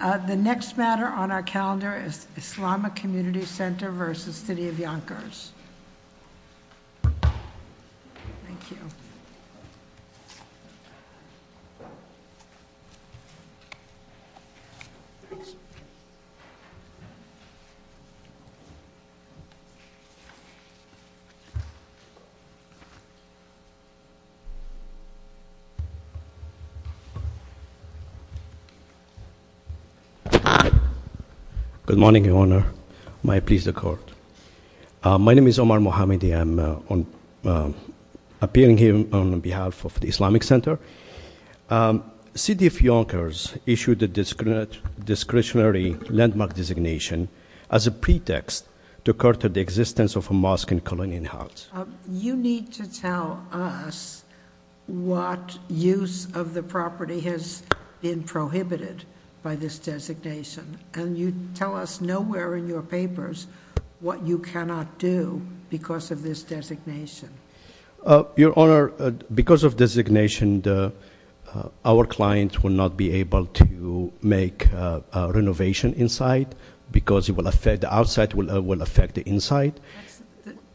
The next matter on our calendar is Islamic Community Center versus City of Yonkers. Thank you. Good morning, Your Honor. May it please the court. My name is Omar Mohamedi, I'm appearing here on behalf of the Islamic Center. City of Yonkers issued a discretionary landmark designation as a pretext to curtail the existence of a mosque and colonial house. You need to tell us what use of the property has been prohibited by this designation. And you tell us nowhere in your papers what you cannot do because of this designation. Your Honor, because of designation, our client will not be able to make a renovation inside because the outside will affect the inside.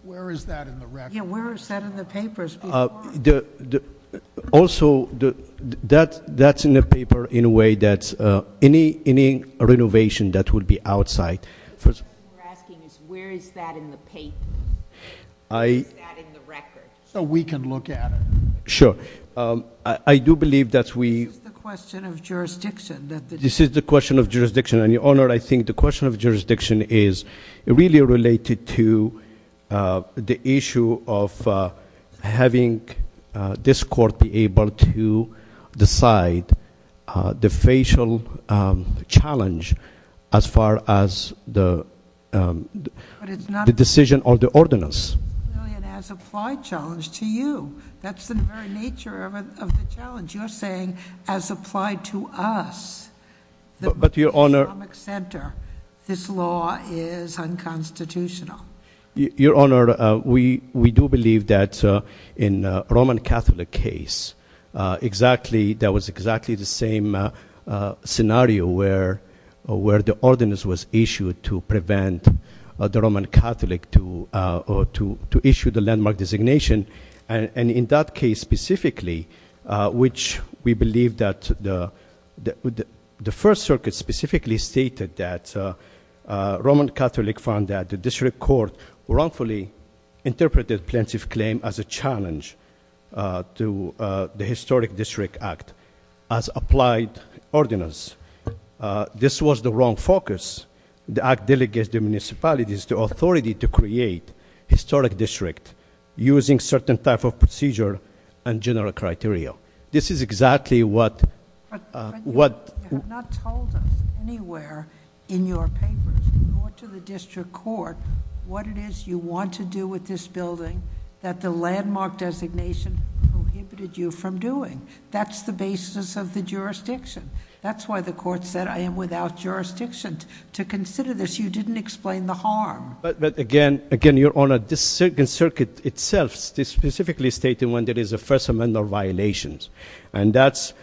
Where is that in the record? Yeah, where is that in the papers? Also, that's in the paper in a way that's any renovation that would be outside. First- We're asking is where is that in the paper? Where is that in the record? So we can look at it. Sure, I do believe that we- It's the question of jurisdiction that the- This is the question of jurisdiction. And Your Honor, I think the question of jurisdiction is really related to the issue of having this court be able to decide the facial challenge as far as the- But it's not- The decision of the ordinance. Really an as applied challenge to you. That's the very nature of the challenge. You're saying as applied to us. But Your Honor- The economic center, this law is unconstitutional. Your Honor, we do believe that in Roman Catholic case, exactly that was exactly the same scenario where the ordinance was issued to prevent the Roman Catholic to issue the landmark designation. And in that case specifically, which we believe that the first circuit specifically stated that Roman Catholic found that the district court wrongfully interpreted plaintiff claim as a challenge to the historic district act. As applied ordinance, this was the wrong focus. The act delegates the municipalities the authority to create historic district using certain type of procedure and general criteria. This is exactly what- But you have not told us anywhere in your papers or to the district court what it is you want to do with this building that the landmark designation prohibited you from doing. That's the basis of the jurisdiction. That's why the court said I am without jurisdiction to consider this. You didn't explain the harm. But again, Your Honor, this circuit itself specifically stated when there is a first amendment violation. And that's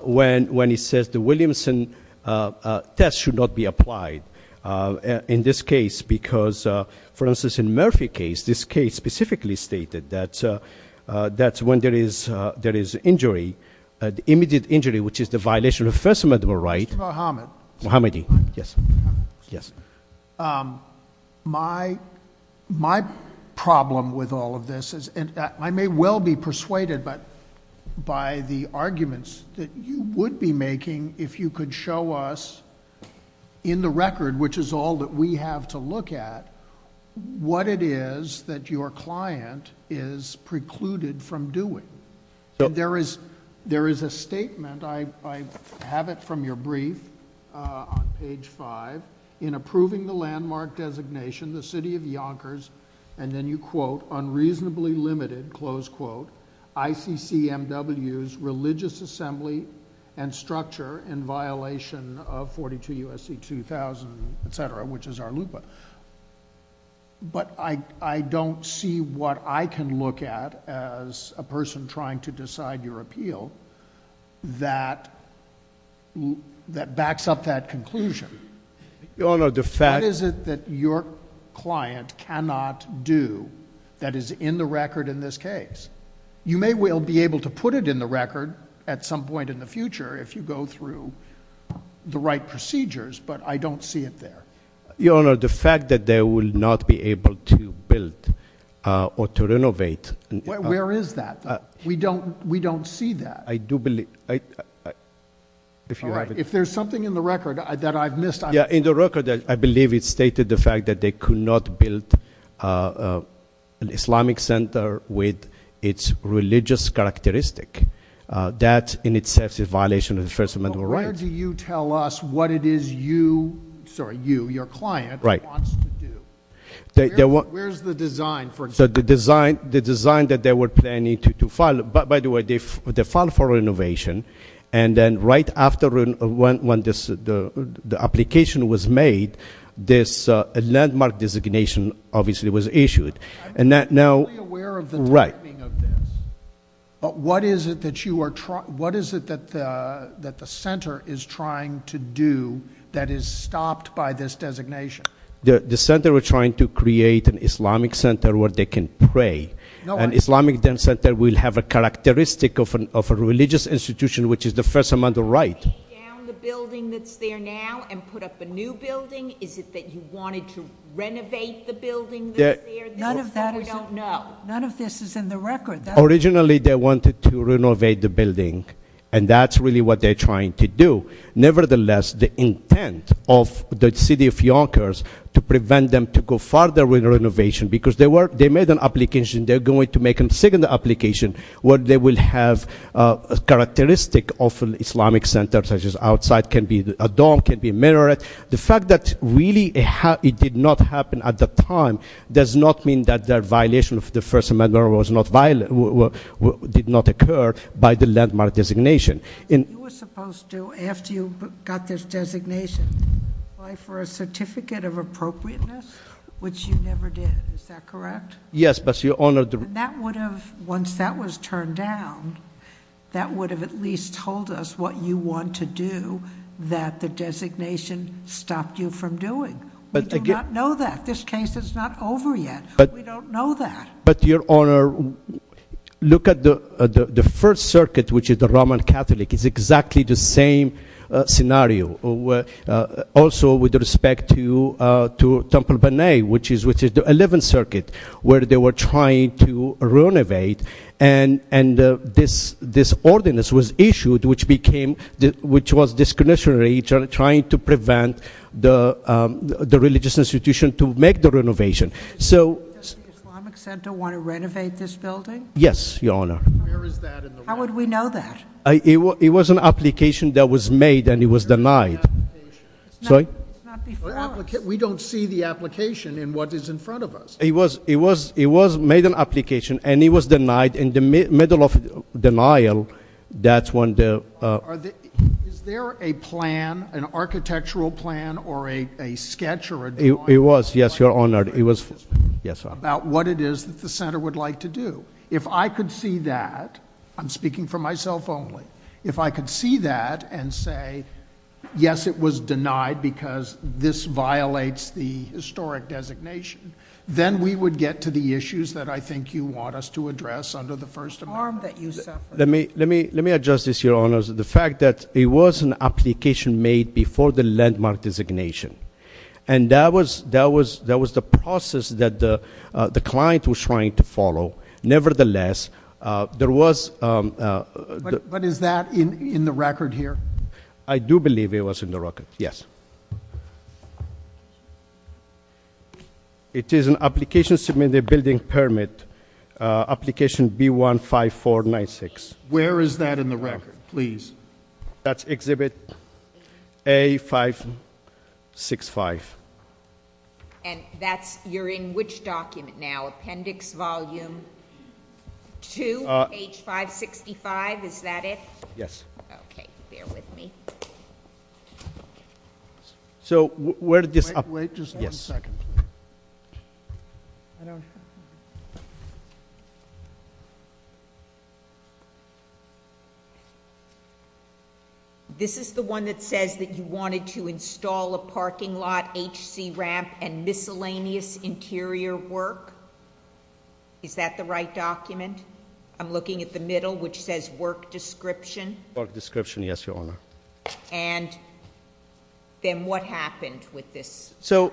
when he says the Williamson test should not be applied in this case. Because, for instance, in Murphy case, this case specifically stated that's when there is injury. Immediate injury, which is the violation of first amendment right. Mr. Mohammed. Mohammadi, yes, yes. My problem with all of this is, and I may well be persuaded, but by the arguments that you would be making if you could show us in the record, which is all that we have to look at, what it is that your client is precluded from doing. There is a statement, I have it from your brief on page five. In approving the landmark designation, the city of Yonkers, and then you quote, unreasonably limited, close quote. ICCMW's religious assembly and structure in violation of 42 USC 2000, etc., which is our looper. But I don't see what I can look at as a person trying to decide your appeal. That backs up that conclusion. Your Honor, the fact- What is it that your client cannot do that is in the record in this case? You may well be able to put it in the record at some point in the future if you go through the right procedures, but I don't see it there. Your Honor, the fact that they will not be able to build or to renovate. Where is that? We don't see that. I do believe, if you have it- If there's something in the record that I've missed, I'm- Yeah, in the record, I believe it stated the fact that they could not build an Islamic center with its religious characteristic. That in itself is a violation of the First Amendment. But where do you tell us what it is you, sorry, you, your client, wants to do? Where's the design for- So the design that they were planning to file, by the way, they filed for renovation, and then right after when the application was made, this landmark designation obviously was issued. And that now- I'm not really aware of the timing of this, but what is it that you are trying, what is it that the center is trying to do that is stopped by this designation? The center was trying to create an Islamic center where they can pray. An Islamic center will have a characteristic of a religious institution, which is the First Amendment right. You're taking down the building that's there now and put up a new building? Is it that you wanted to renovate the building that's there? None of that is- We don't know. None of this is in the record. Originally, they wanted to renovate the building, and that's really what they're trying to do. Nevertheless, the intent of the city of Yonkers to prevent them to go further with the renovation, because they made an application, they're going to make a second application, where they will have a characteristic of an Islamic center, such as outside can be a dorm, can be a minaret. The fact that really it did not happen at the time does not mean that the violation of the First Amendment did not occur by the landmark designation. You were supposed to, after you got this designation, apply for a certificate of appropriateness, which you never did, is that correct? Yes, but your honor- That would have, once that was turned down, that would have at least told us what you want to do, that the designation stopped you from doing. We do not know that. This case is not over yet. We don't know that. But your honor, look at the first circuit, which is the Roman Catholic, is exactly the same scenario. Also, with respect to Temple Bonnet, which is the 11th circuit, where they were trying to renovate, and this ordinance was issued, which was discretionary, trying to prevent the religious institution to make the renovation. So- Does the Islamic Center want to renovate this building? Yes, your honor. Where is that in the record? How would we know that? It was an application that was made, and it was denied. It's not before us. We don't see the application in what is in front of us. It was made an application, and it was denied in the middle of denial. That's when the- Is there a plan, an architectural plan, or a sketch or a drawing- It was, yes, your honor. About what it is that the center would like to do. If I could see that, I'm speaking for myself only. If I could see that and say, yes, it was denied because this violates the historic designation, then we would get to the issues that I think you want us to address under the First Amendment. The harm that you suffered. Let me adjust this, your honors. The fact that it was an application made before the landmark designation. And that was the process that the client was trying to follow. Nevertheless, there was- But is that in the record here? I do believe it was in the record, yes. It is an application submitted building permit, application B15496. Where is that in the record, please? That's exhibit A565. And that's, you're in which document now, appendix volume two, page 565, is that it? Yes. Okay, bear with me. So where did this- Wait just one second. This is the one that says that you wanted to install a parking lot, HC ramp, and miscellaneous interior work? Is that the right document? I'm looking at the middle, which says work description. Work description, yes, your honor. And then what happened with this? So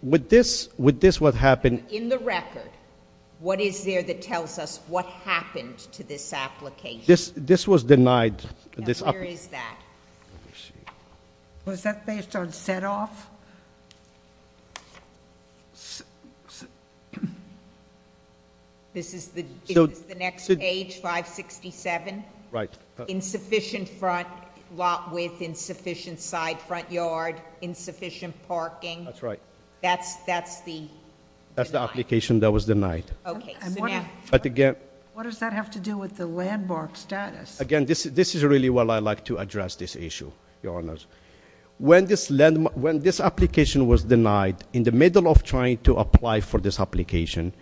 with this, what happened- In the record, what is there that tells us what happened to this application? This was denied. Where is that? Was that based on set off? This is the next page, 567? Right. Insufficient front lot width, insufficient side front yard, insufficient parking. That's right. That's the- That's the application that was denied. Okay, so now- But again- What does that have to do with the landmark status? Again, this is really what I like to address this issue, your honors. When this application was denied, in the middle of trying to apply for this application,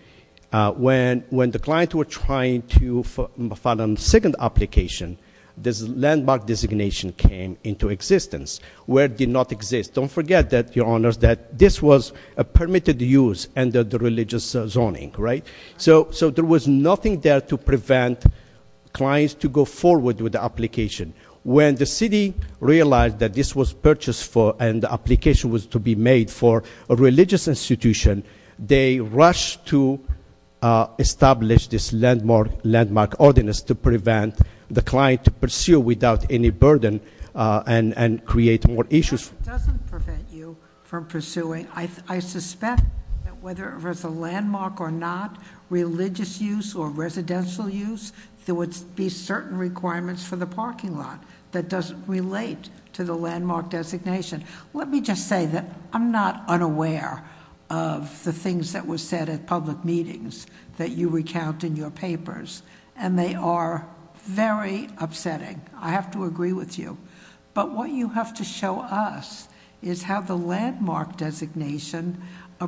when the client were trying to file a second application, this landmark designation came into existence, where it did not exist. Don't forget that, your honors, that this was a permitted use under the religious zoning, right? So there was nothing there to prevent clients to go forward with the application. When the city realized that this was purchased for, and the application was to be made for a religious institution, they rushed to establish this landmark ordinance to prevent the client to pursue without any burden and create more issues. It doesn't prevent you from pursuing, I suspect that whether it was a landmark or not, religious use or residential use, there would be certain requirements for the parking lot that doesn't relate to the landmark designation. Let me just say that I'm not unaware of the things that were said at public meetings that you recount in your papers, and they are very upsetting. I have to agree with you. But what you have to show us is how the landmark designation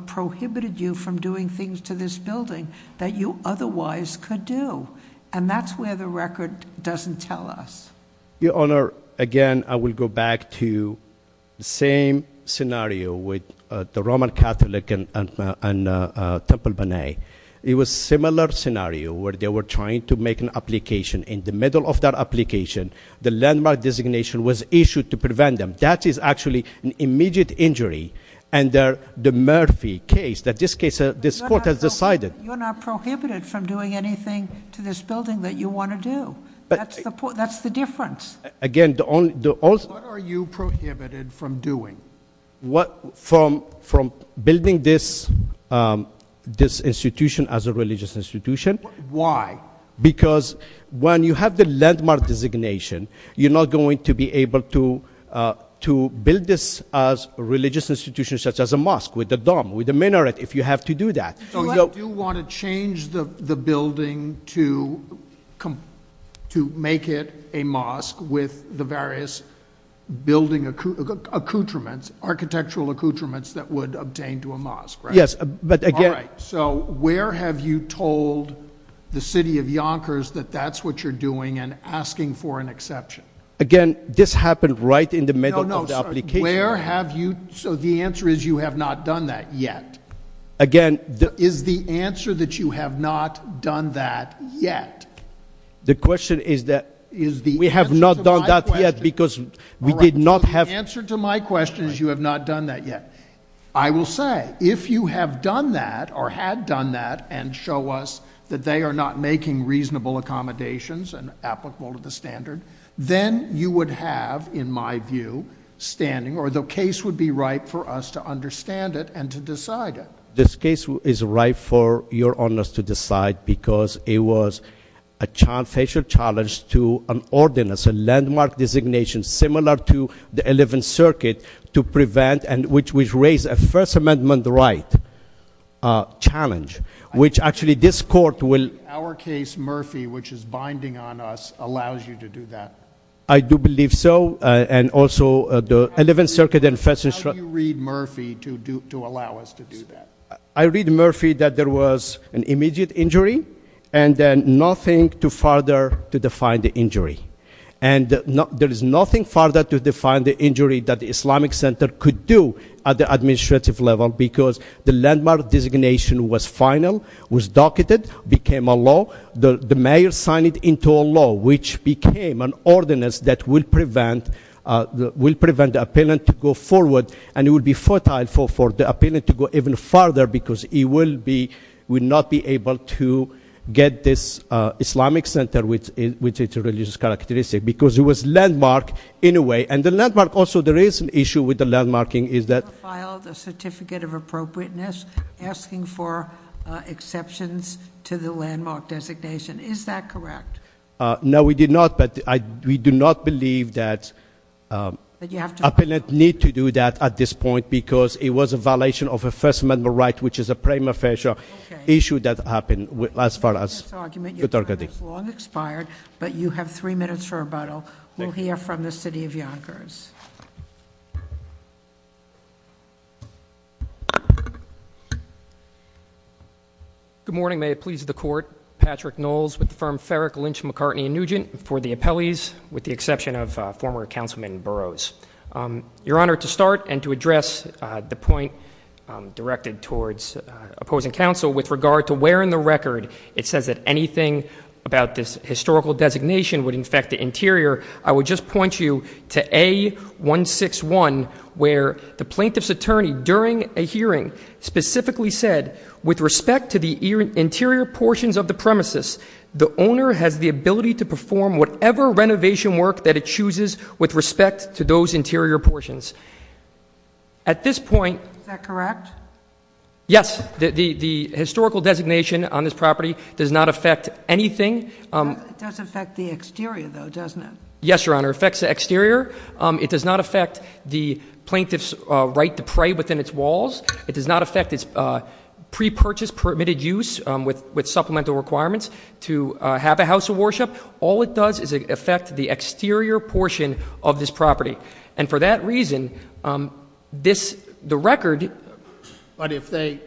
prohibited you from doing things to this building that you otherwise could do. And that's where the record doesn't tell us. Your honor, again, I will go back to the same scenario with the Roman Catholic and Temple Bonnet. It was similar scenario where they were trying to make an application. In the middle of that application, the landmark designation was issued to prevent them. That is actually an immediate injury under the Murphy case that this court has decided. You're not prohibited from doing anything to this building that you want to do. That's the difference. Again, the only- What are you prohibited from doing? What, from building this institution as a religious institution. Why? Because when you have the landmark designation, you're not going to be able to build this as a religious institution such as a mosque with a dome, with a minaret, if you have to do that. So you do want to change the building to make it a mosque with the various building accoutrements, architectural accoutrements that would obtain to a mosque, right? Yes, but again- So where have you told the city of Yonkers that that's what you're doing and asking for an exception? Again, this happened right in the middle of the application. No, no, where have you, so the answer is you have not done that yet. Again, the- Is the answer that you have not done that yet? The question is that we have not done that yet because we did not have- The answer to my question is you have not done that yet. I will say, if you have done that or had done that and show us that they are not making reasonable accommodations and applicable to the standard, then you would have, in my view, standing, or the case would be right for us to understand it and to decide it. This case is right for your honors to decide because it was a facial challenge to an ordinance, a landmark designation similar to the 11th Circuit to prevent and which would raise a First Amendment right challenge, which actually this court will- Our case, Murphy, which is binding on us, allows you to do that. I do believe so, and also the 11th Circuit and first- How do you read Murphy to allow us to do that? I read Murphy that there was an immediate injury and then nothing to further to define the injury. And there is nothing further to define the injury that the Islamic Center could do at the administrative level, because the landmark designation was final, was docketed, became a law. The mayor signed it into a law, which became an ordinance that will prevent the appellant to go forward, and it would be fertile for the appellant to go even further, because he would not be able to get this Islamic Center, which is a religious characteristic, because it was landmark in a way. And the landmark also, there is an issue with the landmarking, is that- You filed a certificate of appropriateness asking for exceptions to the landmark designation. Is that correct? No, we did not, but we do not believe that- That you have to- Appellant need to do that at this point, because it was a violation of a First Amendment right, which is a prima facie issue that happened, as far as- This argument is long expired, but you have three minutes for rebuttal. We'll hear from the city of Yonkers. Please. Good morning, may it please the court. Patrick Knowles with the firm Ferrick, Lynch, McCartney, and Nugent for the appellees, with the exception of former Councilman Burroughs. Your Honor, to start and to address the point directed towards opposing counsel with regard to where in the record it says that anything about this historical designation would infect the interior, I would just point you to A161, where the plaintiff's attorney, during a hearing, specifically said, with respect to the interior portions of the premises, the owner has the ability to perform whatever renovation work that it chooses with respect to those interior portions. At this point- Is that correct? Yes, the historical designation on this property does not affect anything. It does affect the exterior, though, doesn't it? Yes, Your Honor, it affects the exterior. It does not affect the plaintiff's right to pray within its walls. It does not affect its pre-purchase permitted use with supplemental requirements to have a house of worship. All it does is affect the exterior portion of this property. And for that reason, the record- But if they,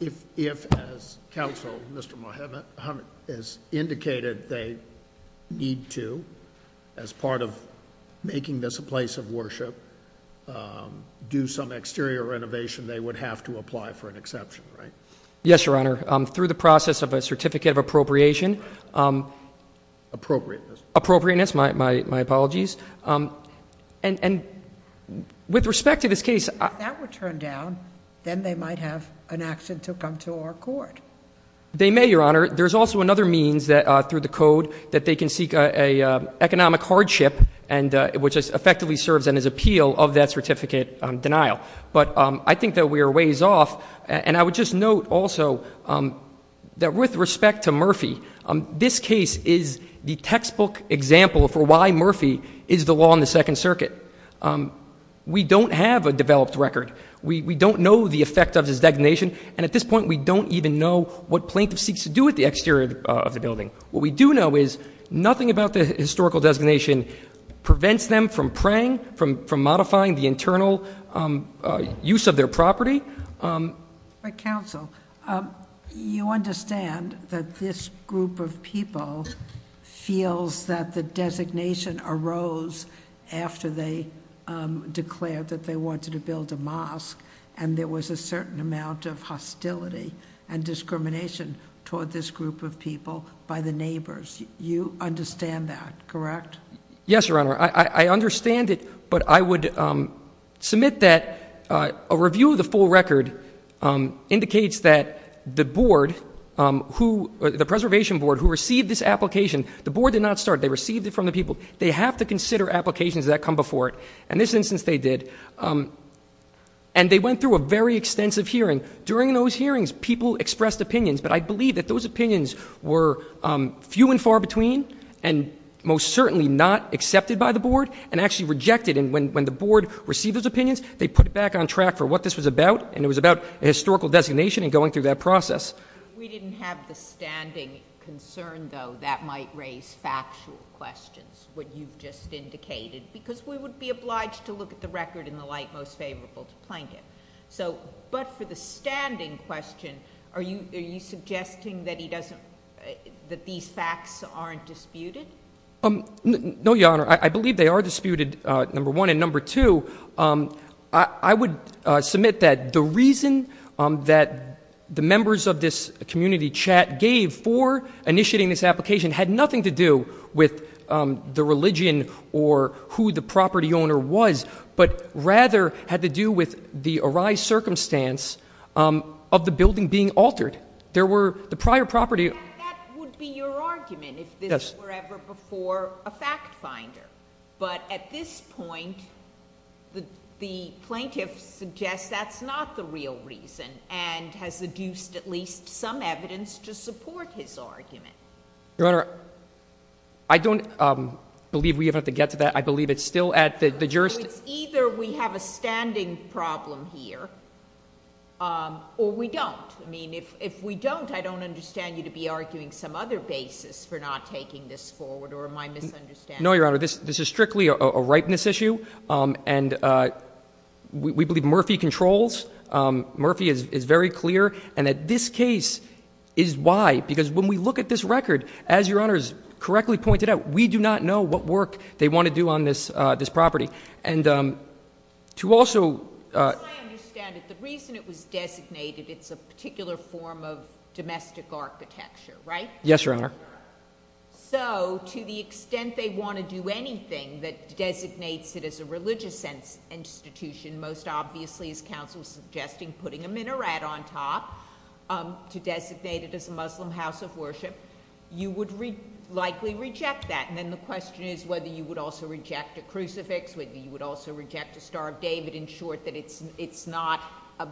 if as counsel, Mr. Muhammad, has indicated they need to, as part of making this a place of worship, do some exterior renovation, they would have to apply for an exception, right? Yes, Your Honor, through the process of a certificate of appropriation. Appropriateness. Appropriateness, my apologies. And with respect to this case- If that were turned down, then they might have an action to come to our court. They may, Your Honor. There's also another means through the code that they can seek a economic hardship, which effectively serves as an appeal of that certificate denial. But I think that we are ways off. And I would just note also that with respect to Murphy, this case is the textbook example for why Murphy is the law in the Second Circuit. We don't have a developed record. We don't know the effect of this designation. And at this point, we don't even know what Plaintiff seeks to do with the exterior of the building. What we do know is nothing about the historical designation prevents them from praying, from modifying the internal use of their property. But counsel, you understand that this group of people feels that the designation arose after they declared that they wanted to build a mosque. And there was a certain amount of hostility and discrimination toward this group of people by the neighbors. You understand that, correct? Yes, Your Honor. I understand it, but I would submit that a review of the full record indicates that the preservation board who received this application, the board did not start. They received it from the people. They have to consider applications that come before it. In this instance, they did. And they went through a very extensive hearing. During those hearings, people expressed opinions, but I believe that those opinions were few and far between, and most certainly not accepted by the board, and actually rejected. And when the board received those opinions, they put it back on track for what this was about. And it was about historical designation and going through that process. We didn't have the standing concern, though, that might raise factual questions, what you've just indicated, because we would be obliged to look at the record in the light most favorable to Plankett. So, but for the standing question, are you suggesting that he doesn't, that these facts aren't disputed? No, Your Honor, I believe they are disputed, number one. And number two, I would submit that the reason that the members of this community chat gave for initiating this application had nothing to do with the religion or who the property owner was, but rather had to do with the arise circumstance of the building being altered. There were, the prior property- The plaintiff suggests that's not the real reason, and has deduced at least some evidence to support his argument. Your Honor, I don't believe we have to get to that. I believe it's still at the jurisdiction. Either we have a standing problem here, or we don't. I mean, if we don't, I don't understand you to be arguing some other basis for not taking this forward, or am I misunderstanding? No, Your Honor, this is strictly a ripeness issue, and we believe Murphy controls. Murphy is very clear, and that this case is why, because when we look at this record, as Your Honor has correctly pointed out, we do not know what work they want to do on this property. And to also- As I understand it, the reason it was designated, it's a particular form of domestic architecture, right? Yes, Your Honor. So, to the extent they want to do anything that designates it as a religious institution, most obviously, as counsel is suggesting, putting a minaret on top to designate it as a Muslim house of worship. You would likely reject that, and then the question is whether you would also reject a crucifix, whether you would also reject a Star of David, in short, that it's not a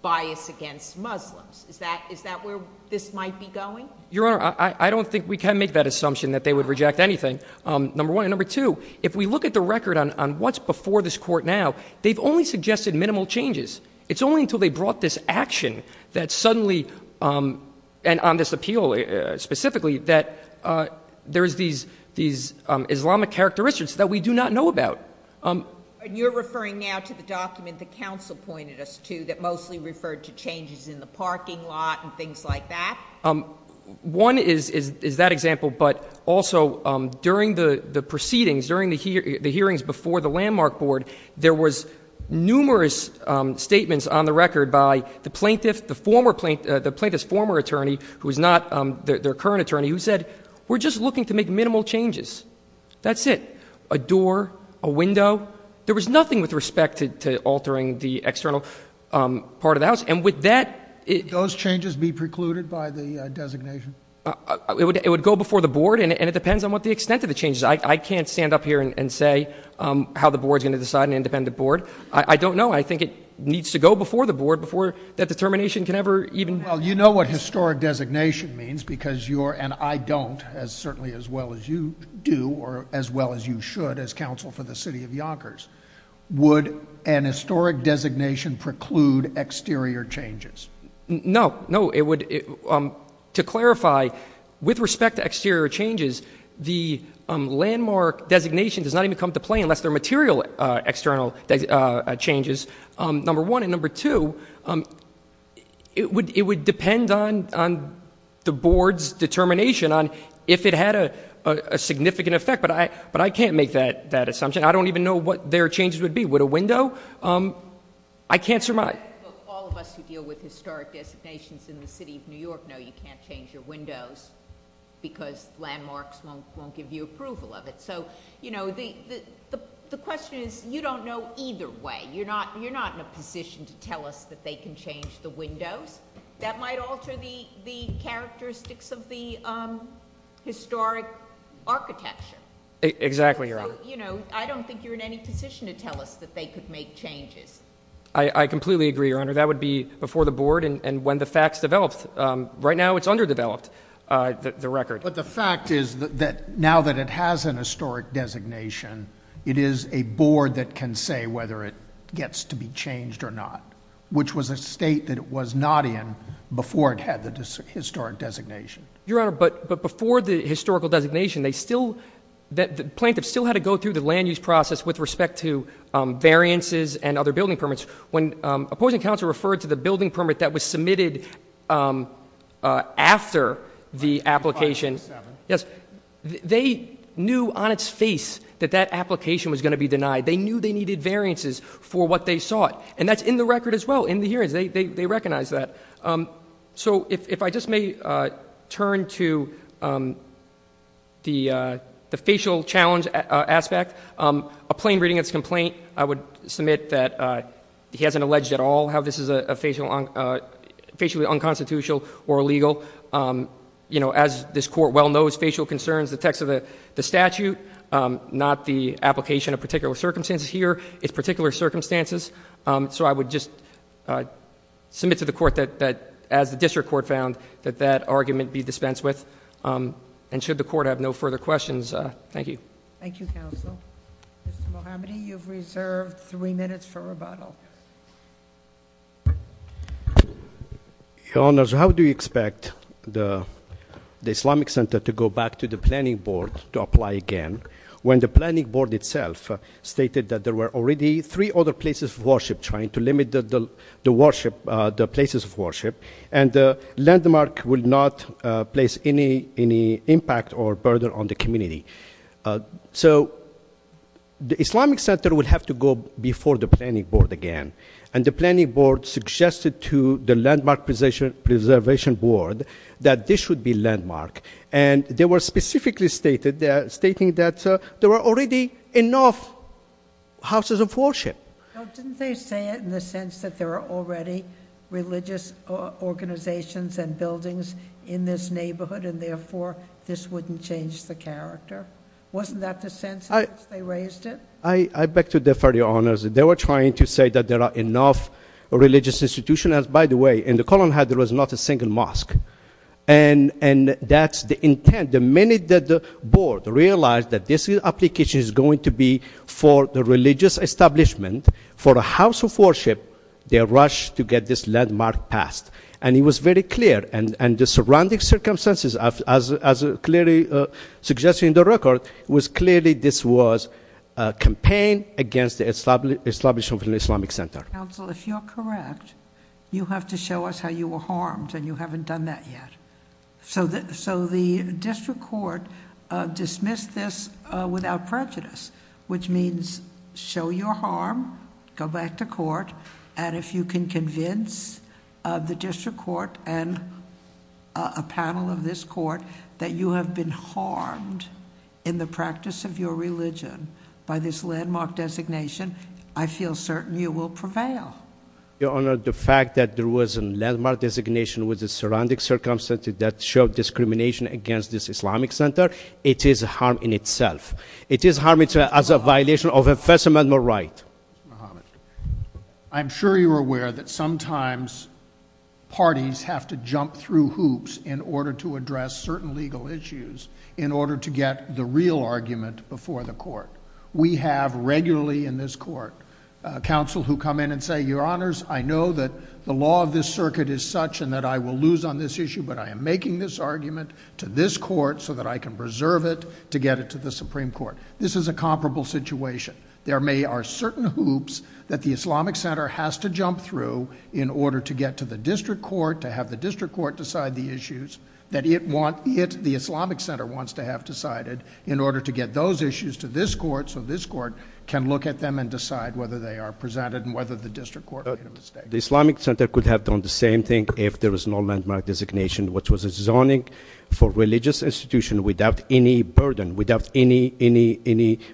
bias against Muslims. Is that where this might be going? Your Honor, I don't think we can make that assumption that they would reject anything, number one. And number two, if we look at the record on what's before this court now, they've only suggested minimal changes. It's only until they brought this action that suddenly, and on this appeal specifically, that there's these Islamic characteristics that we do not know about. And you're referring now to the document that counsel pointed us to that mostly referred to changes in the parking lot and things like that? One is that example, but also, during the proceedings, during the hearings before the landmark board, there was numerous statements on the record by the plaintiff, the plaintiff's former attorney, who is not their current attorney, who said, we're just looking to make minimal changes. That's it. A door, a window, there was nothing with respect to altering the external part of the house, and with that- Those changes be precluded by the designation? It would go before the board, and it depends on what the extent of the change is. I can't stand up here and say how the board's going to decide an independent board. I don't know. I think it needs to go before the board, before that determination can ever even- Well, you know what historic designation means, because you're, and I don't, as certainly as well as you do, or as well as you should as counsel for the city of Yonkers. Would an historic designation preclude exterior changes? No, no, it would, to clarify, with respect to exterior changes, the landmark designation does not even come to play unless they're material external changes, number one. And number two, it would depend on the board's determination on if it had a significant effect, but I can't make that assumption. I don't even know what their changes would be. Would a window? I can't surmise. All of us who deal with historic designations in the city of New York know you can't change your windows because landmarks won't give you approval of it. So the question is, you don't know either way. You're not in a position to tell us that they can change the windows. That might alter the characteristics of the historic architecture. Exactly, Your Honor. I don't think you're in any position to tell us that they could make changes. I completely agree, Your Honor. That would be before the board and when the facts developed. Right now, it's underdeveloped, the record. But the fact is that now that it has an historic designation, it is a board that can say whether it gets to be changed or not. Which was a state that it was not in before it had the historic designation. Your Honor, but before the historical designation, the plaintiff still had to go through the land use process with respect to variances and other building permits. When opposing counsel referred to the building permit that was submitted after the application. Yes, they knew on its face that that application was going to be denied. They knew they needed variances for what they sought. And that's in the record as well, in the hearings, they recognize that. So if I just may turn to the facial challenge aspect. A plain reading of this complaint, I would submit that he hasn't alleged at all how this is a facially unconstitutional or illegal. As this court well knows, facial concerns, the text of the statute, not the application of particular circumstances here, it's particular circumstances. So I would just submit to the court that as the district court found that that argument be dispensed with. And should the court have no further questions, thank you. Thank you, counsel. Mr. Mohammadi, you've reserved three minutes for rebuttal. Your Honor, so how do you expect the Islamic Center to go back to the planning board to apply again? When the planning board itself stated that there were already three other places of worship trying to limit the worship, the places of worship, and the landmark would not place any impact or impact on the community, so the Islamic Center would have to go before the planning board again. And the planning board suggested to the landmark preservation board that this should be landmark. And they were specifically stating that there were already enough houses of worship. Didn't they say it in the sense that there are already religious organizations and in this neighborhood, and therefore this wouldn't change the character? Wasn't that the sense in which they raised it? I beg to differ, Your Honors. They were trying to say that there are enough religious institutions. By the way, in the column there was not a single mosque. And that's the intent. The minute that the board realized that this application is going to be for the religious establishment, for a house of worship, they rushed to get this landmark passed. And it was very clear, and the surrounding circumstances, as clearly suggested in the record, was clearly this was a campaign against the establishment of an Islamic Center. Council, if you're correct, you have to show us how you were harmed, and you haven't done that yet. So the district court dismissed this without prejudice, which means show your harm, go back to court, and if you can convince the district court and a panel of this court that you have been harmed in the practice of your religion by this landmark designation, I feel certain you will prevail. Your Honor, the fact that there was a landmark designation with the surrounding circumstances that showed discrimination against this Islamic Center, it is harm in itself, it is harm as a violation of a First Amendment right. Mr. Muhammad, I'm sure you're aware that sometimes parties have to jump through hoops in order to address certain legal issues. In order to get the real argument before the court. We have regularly in this court, counsel who come in and say, your honors, I know that the law of this circuit is such and that I will lose on this issue, but I am making this argument to this court so that I can preserve it to get it to the Supreme Court. This is a comparable situation. There may are certain hoops that the Islamic Center has to jump through in order to get to the district court, to have the district court decide the issues that the Islamic Center wants to have decided. In order to get those issues to this court, so this court can look at them and decide whether they are presented and whether the district court made a mistake. The Islamic Center could have done the same thing if there was no landmark designation, which was a zoning for religious institution without any burden, without any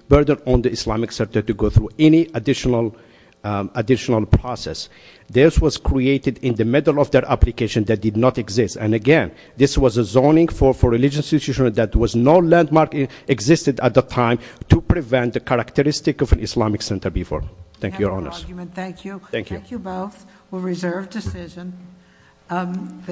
burden on the Islamic Center to go through any additional process. This was created in the middle of their application that did not exist. And again, this was a zoning for religious institution that was no landmark existed at the time to prevent the characteristic of an Islamic Center before. Thank you, your honors. Thank you. Thank you both. We'll reserve decision.